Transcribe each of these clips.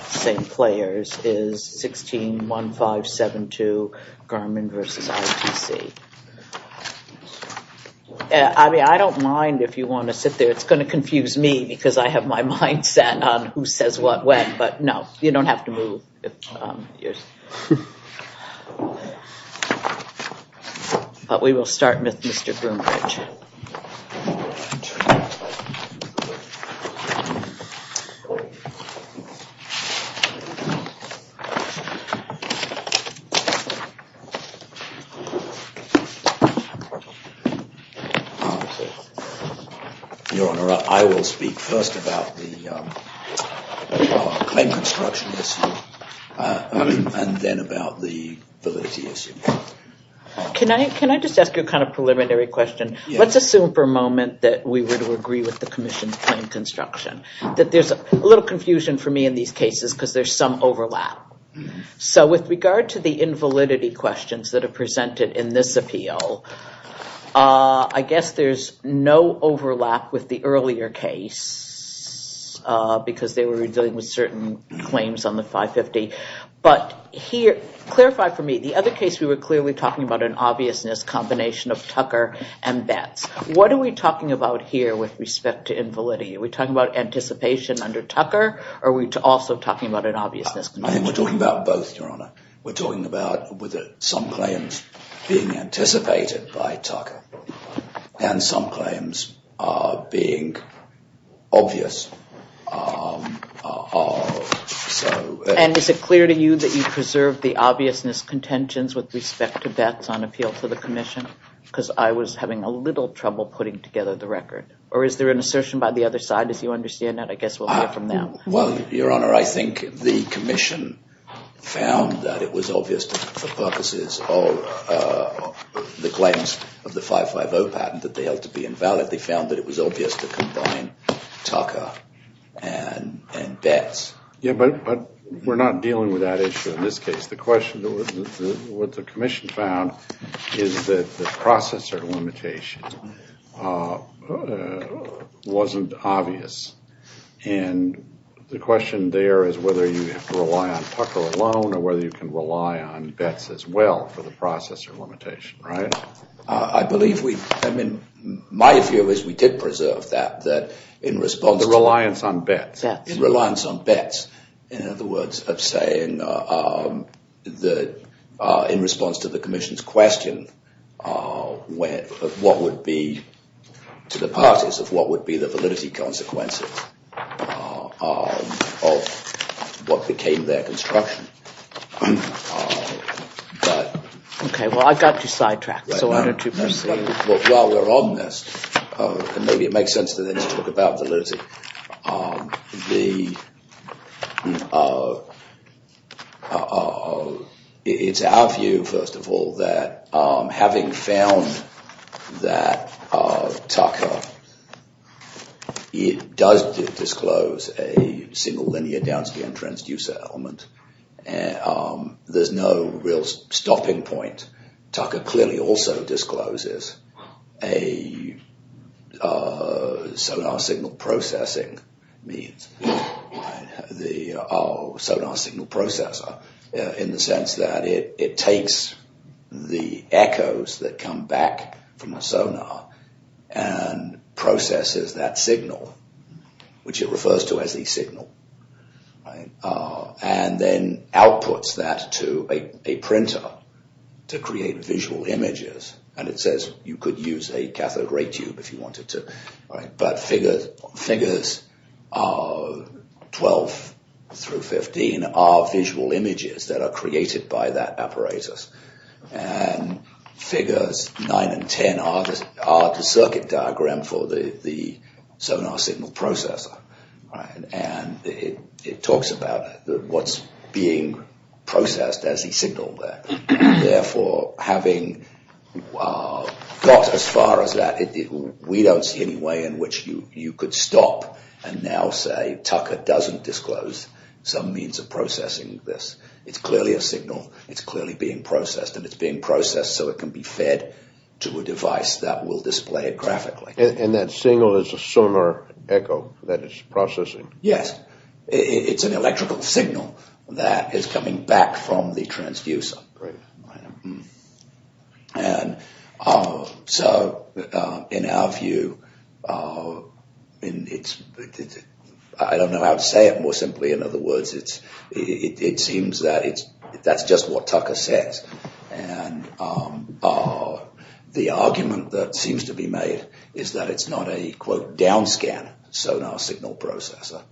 is 161572 Garmin v. ITC. I mean, I don't mind if you want to sit there. It's going to confuse me because I have my mindset on who says what when, but no, you don't have to move. But we will start with Mr. Groombridge. Your Honor, I will speak first about the claim construction issue and then about the validity issue. Can I just ask you a kind of preliminary question? Let's assume for a moment that we were to agree with the Commission's claim construction, that there's a little confusion for me in these cases because there's some overlap. So with regard to the invalidity questions that are presented in this appeal, I guess there's no overlap with the earlier case because they were dealing with certain claims on the 550. But here, clarify for me, the other case we were clearly talking about an obviousness combination of Tucker and Betts. What are we talking about here with respect to invalidity? Are we talking about anticipation under Tucker or are we also talking about an obviousness? I think we're talking about both, Your Honor. We're talking about some claims being anticipated by Tucker and some claims being obvious. And is it clear to you that you preserved the obviousness contentions with respect to Betts on appeal to the Commission? Because I was having a little trouble putting together the record. Or is there an assertion by the other side as you understand that? I guess we'll hear from them. Well, Your Honor, I think the Commission found that it was obvious for purposes of the claims of the 550 patent that they held to be invalid. They found that it was obvious to combine Tucker and Betts. Yeah, but we're not dealing with that issue in this case. The question, what the Commission found is that the processor limitation wasn't obvious. And I don't think it was obvious in the question there is whether you have to rely on Tucker alone or whether you can rely on Betts as well for the processor limitation, right? I believe we, I mean, my view is we did preserve that, that in response to The reliance on Betts. Yeah, the reliance on Betts. In other words, of saying that in response to the Commission's question of what would be to the parties of what would be the validity consequences. Okay, well, I've got you sidetracked, so why don't you proceed. While we're on this, and maybe it makes sense to talk about validity. It's our view, first of all, that having found that Tucker, it does disclose that there is a possibility that there was a single linear downscan transducer element. There's no real stopping point. Tucker clearly also discloses a sonar signal processing means, the sonar signal processor in the sense that it takes the echoes that come back from the sonar and processes that as a signal and then outputs that to a printer to create visual images and it says you could use a cathode ray tube if you wanted to, but figures 12 through 15 are visual images that are created by that apparatus and figures 9 and 10 are the circuit diagram for the sonar signal processor. It talks about what's being processed as a signal there. Therefore, having got as far as that, we don't see any way in which you could stop and now say Tucker doesn't disclose some means of processing this. It's clearly a signal. It's clearly being processed and it's being processed so it can be fed to a device that will display it graphically. And that signal is a sonar echo that is processing? Yes. It's an electrical signal that is coming back from the transducer. So in our view, I don't know how to say it more simply, in other words, it seems that that's just what it is. It's not a quote down scan sonar signal processor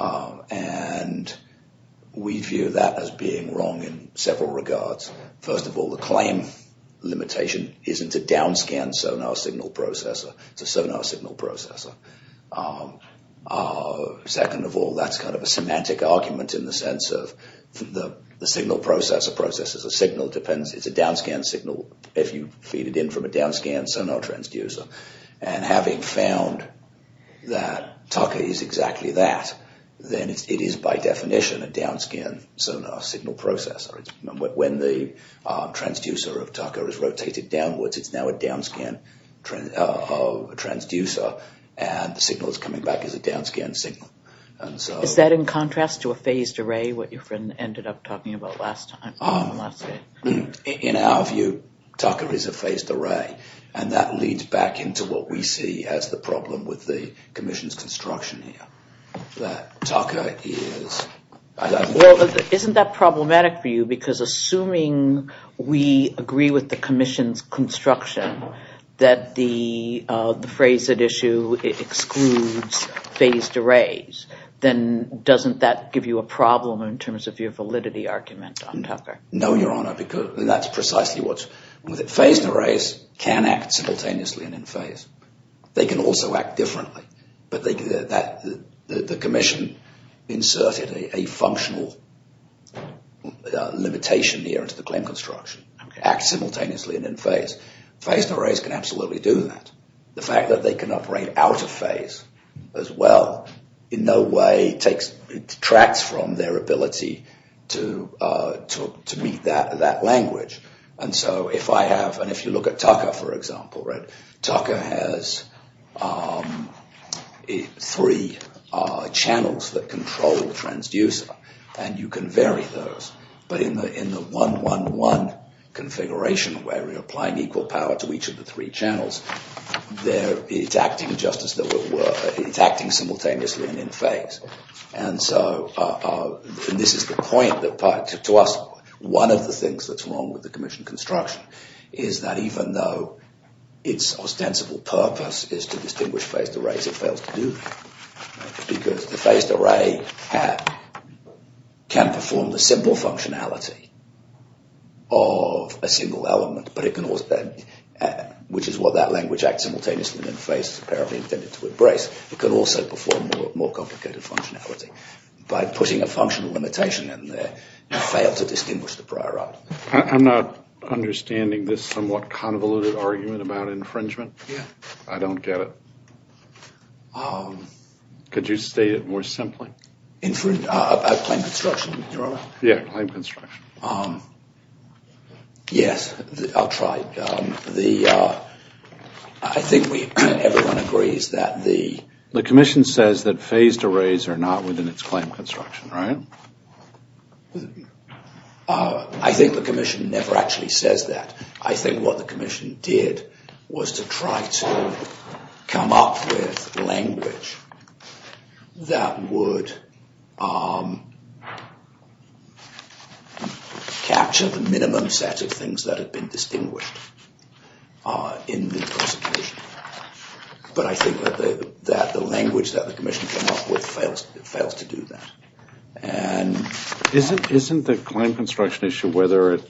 and we view that as being wrong in several regards. First of all, the claim limitation isn't a down scan sonar signal processor. It's a sonar signal processor. Second of all, that's kind of a semantic argument in the sense of the signal processor processes a signal. It's a down scan signal if you feed in from a down scan sonar transducer. And having found that Tucker is exactly that, then it is by definition a down scan sonar signal processor. When the transducer of Tucker is rotated downwards, it's now a down scan transducer and the signal is coming back as a down scan signal. Is that in contrast to a phased array, what your friend ended up talking about last time? In our view, Tucker is a phased array and that leads back into what we see as the problem with the commission's construction here. Well, isn't that problematic for you because assuming we agree with the commission's construction that the phrase at issue excludes phased arrays, then doesn't that give you a problem in terms of your validity argument on Tucker? No, Your Honor. Phased arrays can act simultaneously and in phase. They can also act differently. But the commission inserted a functional limitation here into the claim construction. Act simultaneously and in phase. Phased arrays can absolutely do that. The fact that they can operate out of phase as well in no way detracts from their ability to communicate. If you look at Tucker, for example, Tucker has three channels that control the transducer and you can vary those. But in the one, one, one configuration where we're applying equal power to each of the three channels, it's acting simultaneously and in phase. And so, and this is the point that to us, one of the things that's wrong with the commission's construction is that even though its ostensible purpose is to distinguish phased arrays, it fails to do that. Because the phased array can perform the simple functionality of a single element, but it can also, which is what that language, act simultaneously and in phase, is apparently intended to embrace, it can also perform more complicated functionality. By putting a functional limitation in there, it failed to distinguish the prior item. I'm not understanding this somewhat convoluted argument about infringement. I don't get it. Could you state it more simply? Infrin- about claim construction, Your Honor? Yeah, claim construction. Yes, I'll try. The, I think we, everyone agrees that the- The commission says that phased arrays are not within its claim construction, right? I think the commission never actually says that. I think what the commission did was to try to come up with language that would, that would, that would, that would, that would capture the minimum set of things that had been distinguished in the prosecution. But I think that the, that the language that the commission came up with fails to do that. And- Isn't the claim construction issue whether it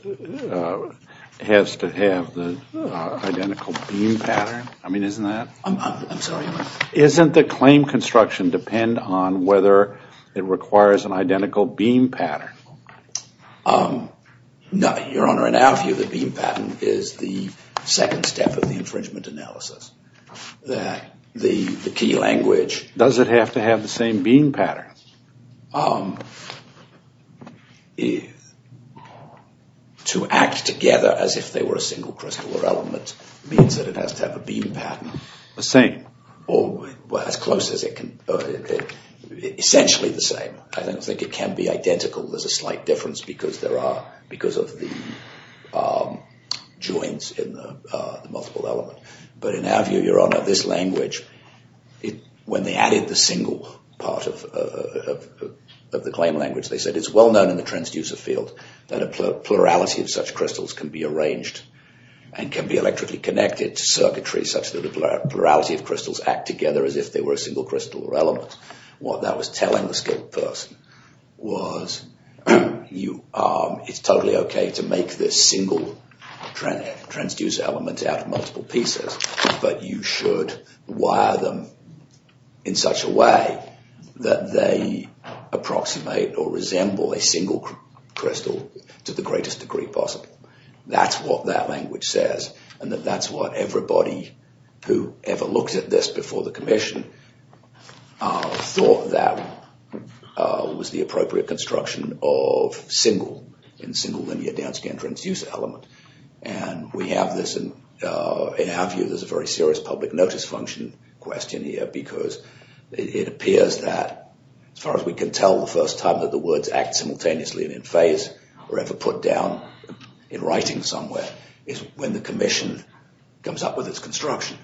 has to have the identical beam pattern? I mean, isn't that- I'm sorry? Isn't the claim construction depend on whether it requires an identical beam pattern? No, Your Honor. In our view, the beam pattern is the second step of the infringement analysis. The, the key language- Does it have to have the same beam pattern? To act together as if they were a single crystal or element means that it has to have a beam pattern. The same? Well, as close as it can, essentially the same. I don't think it can be identical. There's a slight difference because there are, because of the joints in the multiple element. But in our view, Your Honor, this language, when they added the single part of the claim language, they said it's well known in the transducer field that a plurality of such crystals can be arranged and can be electrically connected to circuitry such that the plurality of crystals act together as if they were a single crystal or element. What that was telling the skilled person was it's totally okay to make this single transducer element out of multiple pieces, but you should wire them in such a way that they approximate or resemble a single crystal to the greatest degree possible. That's what that language says, and that's what everybody who ever looked at this before the commission thought that was the appropriate construction of single in single linear downscan transducer element. We have this, and in our view, this is a very serious public notice function question here because it appears that as far as we can tell the first time that the words act simultaneously and in phase or ever put down in writing somewhere is when the commission comes up with its construction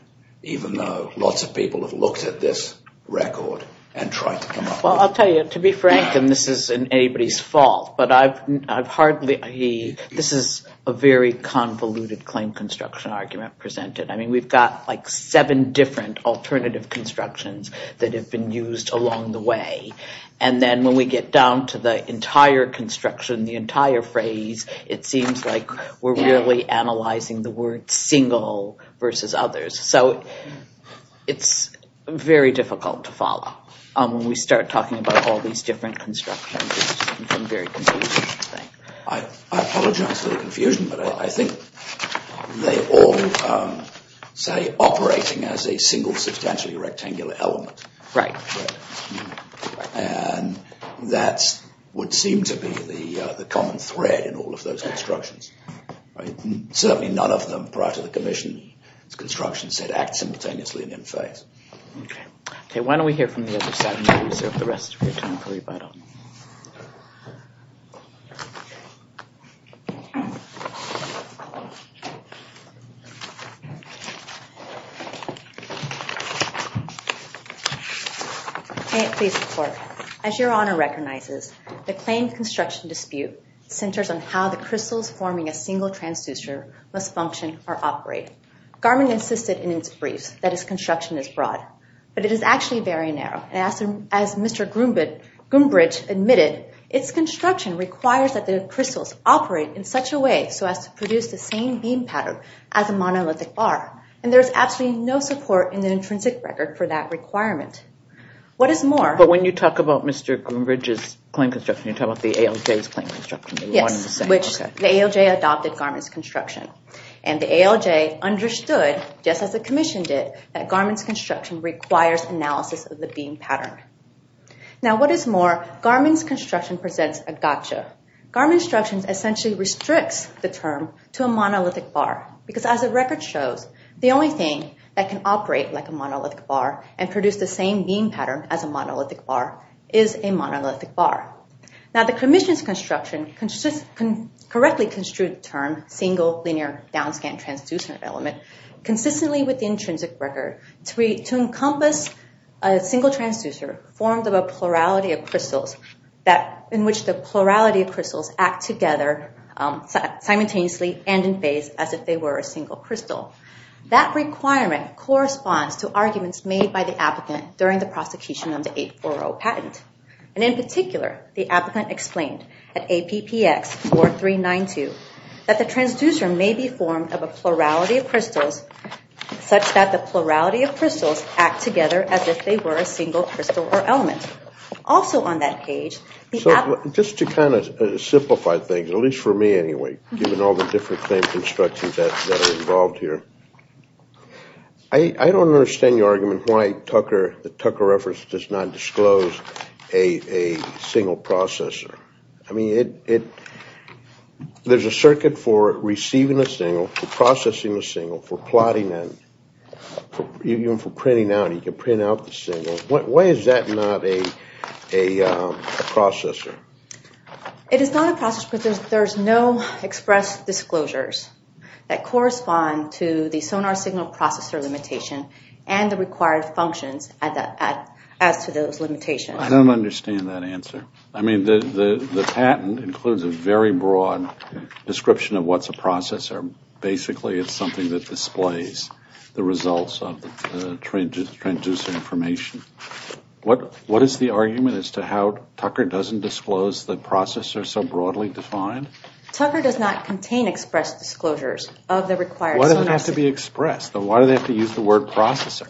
even though lots of people have looked at this record and tried to come up with it. Well, I'll tell you, to be frank, and this isn't anybody's fault, but I've hardly, this is a very convoluted claim construction argument presented. I mean, we've got like seven different alternative constructions that have been used along the way, and then when we get down to the entire construction, the entire phrase, it seems like we're really analyzing the word single versus others. So it's very difficult to follow when we start talking about all these different constructions. It's a very confusing thing. I apologize for the confusion, but I think they all say operating as a single substantially rectangular element, and that would seem to be the common thread in all of those constructions. Certainly, none of them prior to the commission's construction said act simultaneously and in phase. Okay, why don't we hear from the other side and reserve the rest of your time for rebuttal. May it please the court. As your Honor recognizes, the claim construction dispute centers on how the crystals forming a single transducer must function or operate. Garman insisted in its briefs that its construction is broad, but it is actually very narrow. As Mr. Groombridge admitted, its construction requires that the crystals operate in such a way so as to produce the same beam pattern as a monolithic bar, and there is absolutely no support in the intrinsic record for that requirement. But when you talk about Mr. Groombridge's claim construction, you talk about the ALJ's claim construction. Yes, which the ALJ adopted Garman's construction, and the ALJ understood, just as the commission did, that Garman's construction requires analysis of the beam pattern. Now what is more, Garman's construction presents a gotcha. Garman's construction essentially restricts the term to a monolithic bar, because as the record shows, the only thing that can operate like a monolithic bar and produce the same beam pattern as a monolithic bar is a monolithic bar. Now the commission's construction correctly construed the term single linear downscan transducer element consistently with the intrinsic record to encompass a single transducer formed of a plurality of crystals in which the plurality of crystals act together simultaneously and phase as if they were a single crystal. That requirement corresponds to arguments made by the applicant during the prosecution of the 840 patent. And in particular, the applicant explained at APPX 4392 that the transducer may be formed of a plurality of crystals such that the plurality of crystals act together as if they were a single crystal or element. Also on that page... Just to kind of simplify things, at least for me anyway, given all the different claims and instructions that are involved here, I don't understand your argument why the Tucker reference does not disclose a single processor. I mean, there's a circuit for receiving a single, for processing a single, for plotting and even for printing out, you can print out the single. Why is that not a processor? It is not a processor because there's no express disclosures that correspond to the sonar signal processor limitation and the required functions as to those limitations. I don't understand that answer. I mean, the patent includes a very broad description of what's a processor. Basically, it's something that displays the results of the transducer information. What is the argument as to how Tucker doesn't disclose the processor so broadly defined? Tucker does not contain express disclosures of the required... Why does it have to be expressed? Why do they have to use the word processor?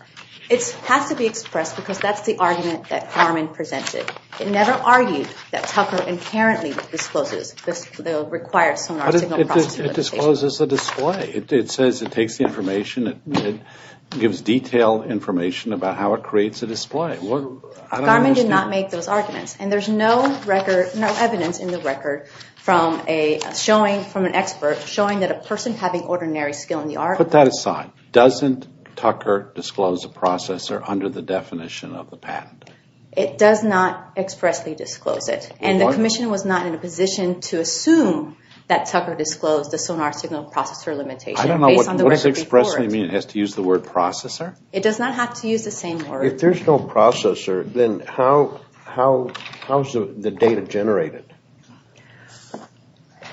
It has to be expressed because that's the argument that Harmon presented. It never argued that Tucker inherently discloses the required sonar signal processor limitation. But it discloses the display. It says it takes the information. It gives detailed information about how it creates a display. I don't understand. Harmon did not make those arguments. And there's no record, no evidence in the record from a showing, from an expert, showing that a person having ordinary skill in the art... Put that aside. Doesn't Tucker disclose a processor under the definition of the patent? It does not expressly disclose it. And the commission was not in a position to assume that Tucker disclosed the sonar signal processor limitation. I don't know. What does expressly mean? It has to use the word processor? It does not have to use the same word. If there's no processor, then how is the data generated?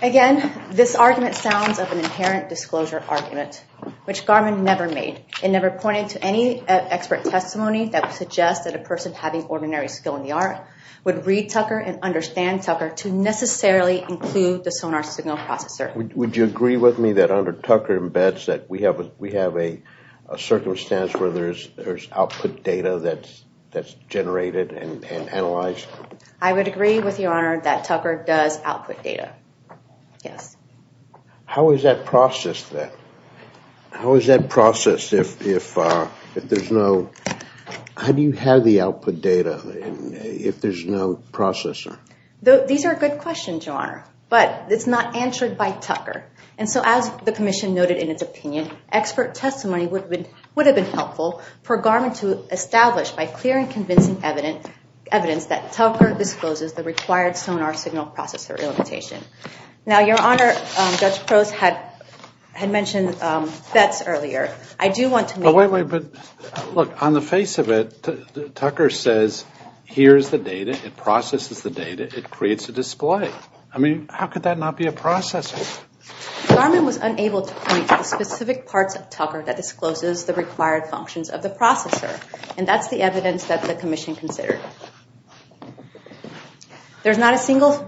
Again, this argument sounds of an inherent disclosure argument, which Garmin never made. It never pointed to any expert testimony that would suggest that a person having ordinary skill in the art would read Tucker and understand Tucker to necessarily include the sonar signal processor. Would you agree with me that under Tucker embeds that we have a circumstance where there's output data that's generated and analyzed? I would agree with Your Honor that Tucker does output data. Yes. How is that processed then? How is that processed if there's no... How do you have the output data if there's no processor? These are good questions, Your Honor, but it's not answered by Tucker. And so as the commission noted in its opinion, expert testimony would have been helpful for Garmin to establish by clear and convincing evidence that Tucker discloses the required sonar signal processor limitation. Now, Your Honor, Judge Prose had mentioned FETs earlier. I do want to make... Wait, wait, but look, on the face of it, Tucker says here's the data. It processes the data. It creates a display. I mean, how could that not be a processor? Garmin was unable to point to the specific parts of Tucker that discloses the required functions of the processor, and that's the evidence that the commission considered. There's not a single...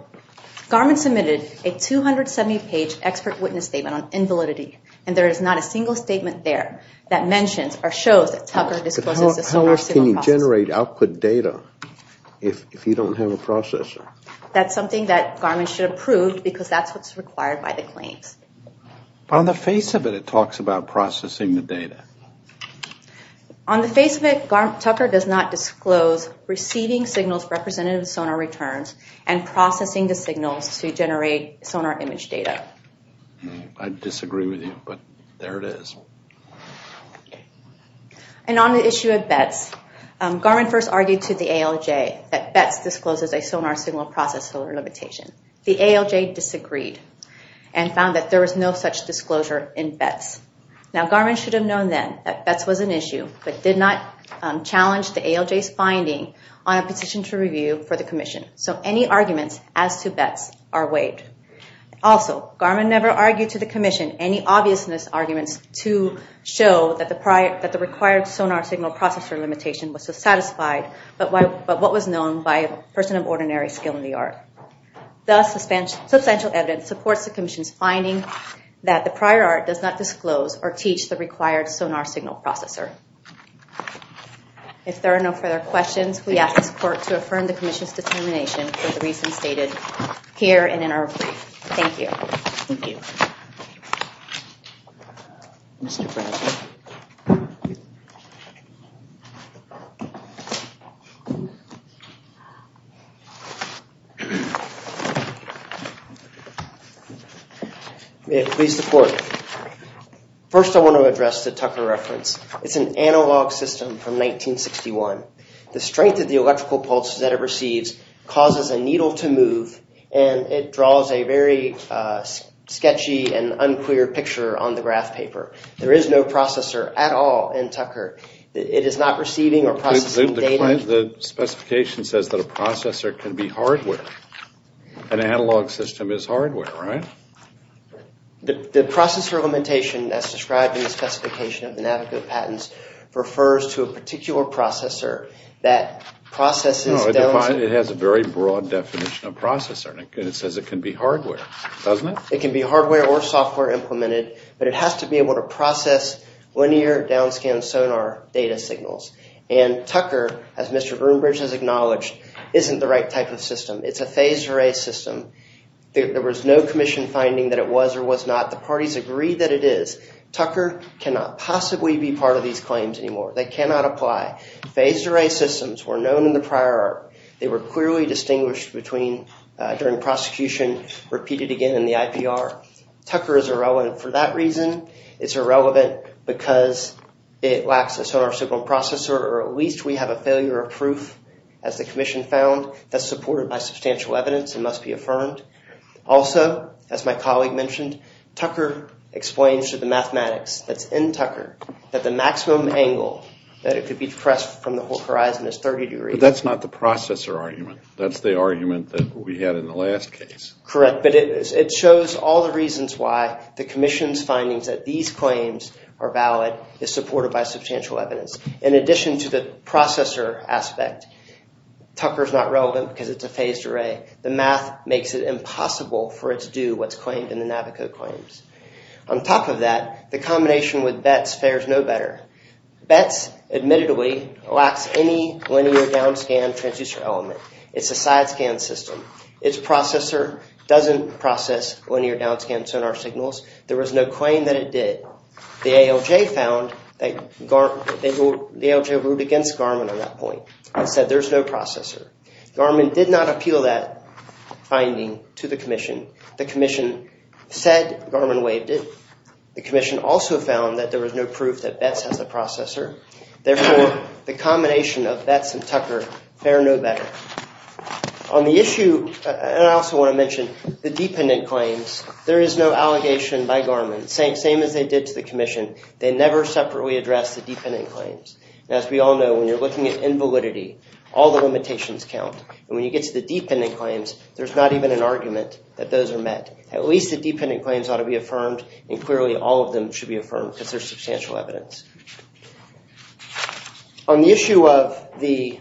Garmin submitted a 270-page expert witness statement on invalidity, and there is not a single statement there that mentions or shows that Tucker discloses the sonar signal processor. How else can you generate output data if you don't have a processor? That's something that Garmin should approve because that's what's required by the claims. On the face of it, it talks about processing the data. On the face of it, Tucker does not disclose receiving signals representative of sonar returns and processing the signals to generate sonar image data. I disagree with you, but there it is. And on the issue of BETS, Garmin first argued to the ALJ that BETS discloses a sonar signal processor limitation. The ALJ disagreed and found that there was no such disclosure in BETS. Now, Garmin should have known then that BETS was an issue but did not challenge the ALJ's finding on a petition to review for the commission. So any arguments as to BETS are waived. Also, Garmin never argued to the commission any obviousness arguments to show that the required sonar signal processor limitation was satisfied but what was known by a person of ordinary skill in the art. Thus, substantial evidence supports the commission's finding that the prior art does not disclose or teach the required sonar signal processor. If there are no further questions, we ask this court to affirm the commission's determination for the reasons stated here and in our brief. Thank you. Thank you. May it please the court. First, I want to address the Tucker reference. It's an analog system from 1961. The strength of the electrical pulse that it receives causes a needle to move and it draws a very sketchy and unclear picture on the graph paper. There is no processor at all in Tucker. It is not receiving or processing data. The specification says that a processor can be hardware. An analog system is hardware, right? The processor limitation as described in the specification of the Navico patents refers to a particular processor that processes. It has a very broad definition of processor and it says it can be hardware, doesn't it? It can be hardware or software implemented, but it has to be able to process linear downscan sonar data signals. And Tucker, as Mr. Greenbridge has acknowledged, isn't the right type of system. It's a phased array system. There was no commission finding that it was or was not. The parties agree that it is. Tucker cannot possibly be part of these claims anymore. They cannot apply. Phased array systems were known in the prior art. They were clearly distinguished during prosecution, repeated again in the IPR. Tucker is irrelevant for that reason. It's irrelevant because it lacks a sonar signal processor or at least we have a failure of proof, as the commission found, that's supported by substantial evidence and must be affirmed. Also, as my colleague mentioned, Tucker explains to the mathematics that's in Tucker that the maximum angle that it could be pressed from the horizon is 30 degrees. But that's not the processor argument. That's the argument that we had in the last case. Correct, but it shows all the reasons why the commission's findings that these claims are valid is supported by substantial evidence. In addition to the processor aspect, Tucker is not relevant because it's a phased array. The math makes it impossible for it to do what's claimed in the Navico claims. On top of that, the combination with Betz fares no better. Betz, admittedly, lacks any linear downscan transducer element. It's a side-scan system. Its processor doesn't process linear downscan sonar signals. There was no claim that it did. The ALJ ruled against Garmin on that point and said there's no processor. Garmin did not appeal that finding to the commission. The commission said Garmin waived it. The commission also found that there was no proof that Betz has a processor. Therefore, the combination of Betz and Tucker fare no better. On the issue, and I also want to mention the dependent claims, there is no allegation by Garmin, same as they did to the commission. They never separately addressed the dependent claims. As we all know, when you're looking at invalidity, all the limitations count. And when you get to the dependent claims, there's not even an argument that those are met. At least the dependent claims ought to be affirmed, and clearly all of them should be affirmed because there's substantial evidence. On the issue of the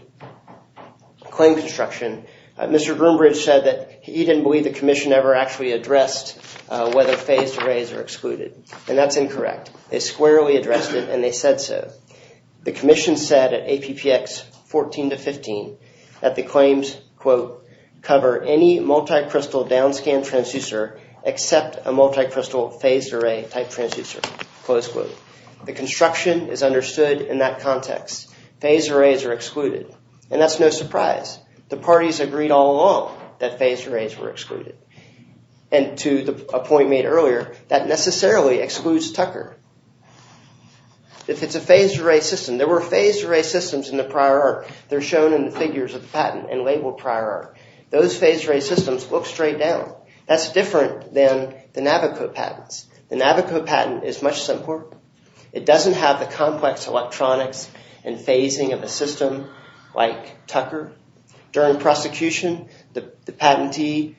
claim construction, Mr. Groombridge said that he didn't believe the commission ever actually addressed whether phased arrays are excluded. And that's incorrect. They squarely addressed it, and they said so. The commission said at APPX 14 to 15 that the claims, quote, cover any multi-crystal downscan transducer except a multi-crystal phased array type transducer, close quote. The construction is understood in that context. Phased arrays are excluded. And that's no surprise. The parties agreed all along that phased arrays were excluded. And to a point made earlier, that necessarily excludes Tucker. If it's a phased array system, there were phased array systems in the prior art. They're shown in the figures of the patent and labeled prior art. Those phased array systems look straight down. That's different than the Navico patents. The Navico patent is much simpler. It doesn't have the complex electronics and phasing of a system like Tucker. During prosecution, the patentee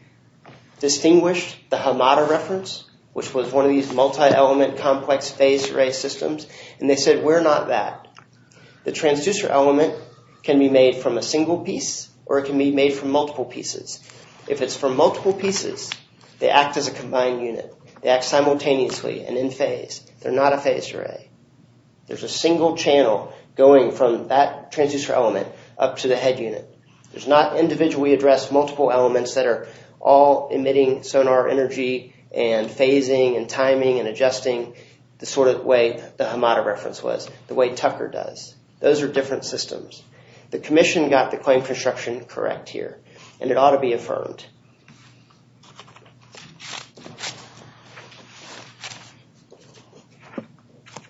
distinguished the Hamada reference, which was one of these multi-element complex phased array systems, and they said we're not that. The transducer element can be made from a single piece, or it can be made from multiple pieces. If it's from multiple pieces, they act as a combined unit. They act simultaneously and in phase. They're not a phased array. There's a single channel going from that transducer element up to the head unit. There's not individually addressed multiple elements that are all emitting sonar energy and phasing and timing and adjusting the sort of way the Hamada reference was, the way Tucker does. Those are different systems. The commission got the claim construction correct here, and it ought to be affirmed.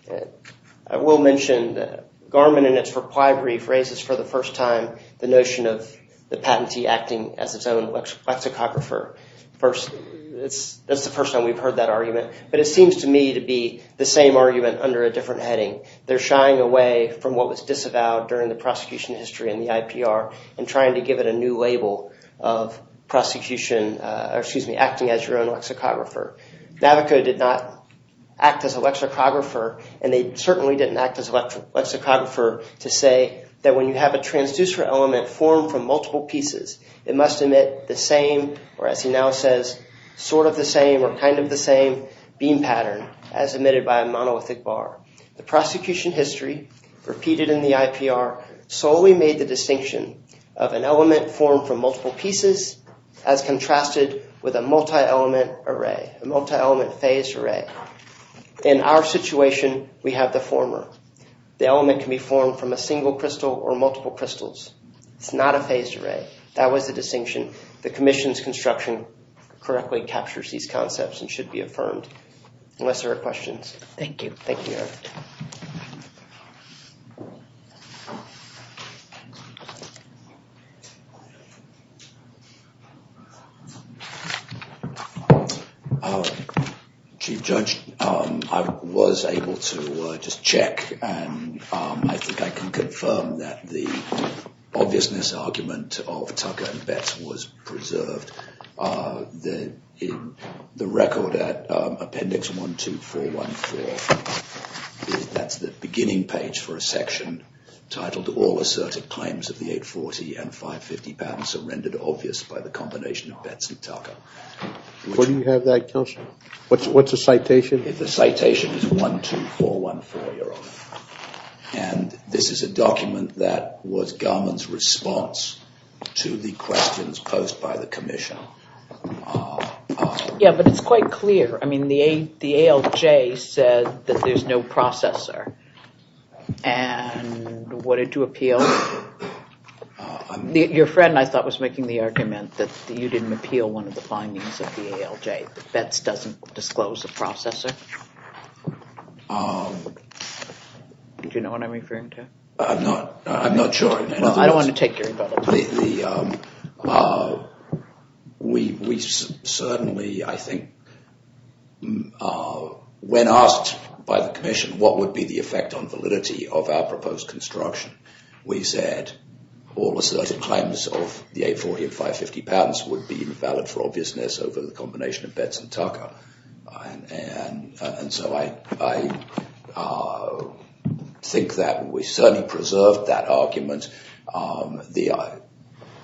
Next. I will mention that Garmin, in its reply brief, raises for the first time the notion of the patentee acting as its own lexicographer. That's the first time we've heard that argument, but it seems to me to be the same argument under a different heading. They're shying away from what was disavowed during the prosecution history in the IPR and trying to give it a new label of acting as your own lexicographer. Navico did not act as a lexicographer, and they certainly didn't act as a lexicographer to say that when you have a transducer element formed from multiple pieces, it must emit the same, or as he now says, sort of the same or kind of the same beam pattern as emitted by a monolithic bar. The prosecution history repeated in the IPR solely made the distinction of an element formed from multiple pieces as contrasted with a multi-element array, a multi-element phased array. In our situation, we have the former. The element can be formed from a single crystal or multiple crystals. It's not a phased array. That was the distinction. The commission's construction correctly captures these concepts and should be affirmed, unless there are questions. Thank you. Chief Judge, I was able to just check, and I think I can confirm that the obviousness argument of Tucker and Betts was preserved. The record at appendix 12414, that's the beginning page for a section titled All Asserted Claims of the 840 and 550 Patterns are Rendered Obvious by the Combination of Betts and Tucker. Where do you have that, Counselor? What's the citation? The citation is 12414, Your Honor. And this is a document that was Garmon's response to the questions posed by the commission. Yeah, but it's quite clear. I mean, the ALJ said that there's no processor. And what did you appeal? Your friend, I thought, was making the argument that you didn't appeal one of the findings of the ALJ, that Betts doesn't disclose a processor. Do you know what I'm referring to? I'm not sure. I don't want to take your button. We certainly, I think, when asked by the commission what would be the effect on validity of our proposed construction, we said all asserted claims of the 840 and 550 patterns would be valid for obviousness over the combination of Betts and Tucker. And so I think that we certainly preserved that argument. The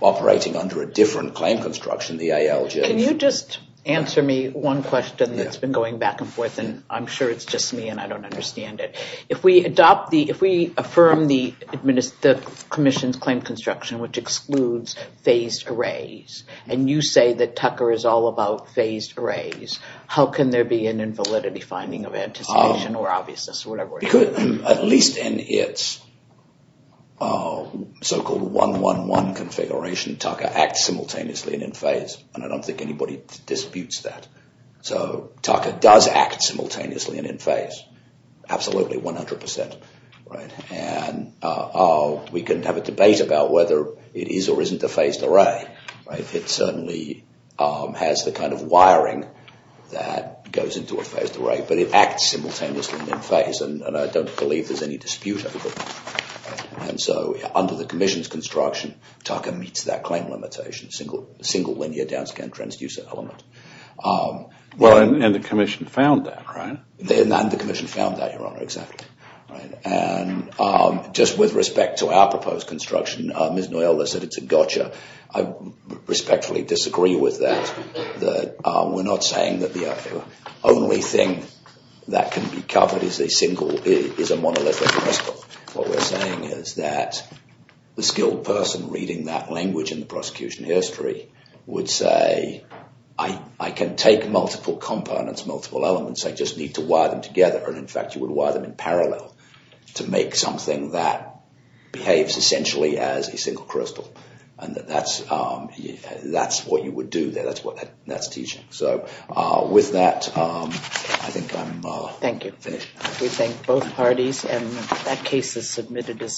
operating under a different claim construction, the ALJ. Can you just answer me one question that's been going back and forth, and I'm sure it's just me and I don't understand it. If we adopt the, if we affirm the commission's claim construction which excludes phased arrays, and you say that Tucker is all about phased arrays, how can there be an invalidity finding of anticipation or obviousness or whatever? Because at least in its so-called 111 configuration, Tucker acts simultaneously and in phase. And I don't think anybody disputes that. So Tucker does act simultaneously and in phase. Absolutely, 100%. We can have a debate about whether it is or isn't a phased array. It certainly has the kind of wiring that goes into a phased array, but it acts simultaneously and in phase. And I don't believe there's any dispute over that. And so under the commission's construction, Tucker meets that claim limitation, single linear downscan transducer element. Well, and the commission found that, right? And the commission found that, Your Honor, exactly. And just with respect to our proposed construction, Ms. Noyola said it's a gotcha. I respectfully disagree with that. We're not saying that the only thing that can be covered is a monolithic crystal. What we're saying is that the skilled person reading that language in the prosecution history would say, I can take multiple components, multiple elements, I just need to wire them together. And in fact, you would wire them in parallel to make something that behaves essentially as a single crystal. And that's what you would do there. That's what that's teaching. So with that, I think I'm finished. Thank you. We thank both parties. And that case is submitted.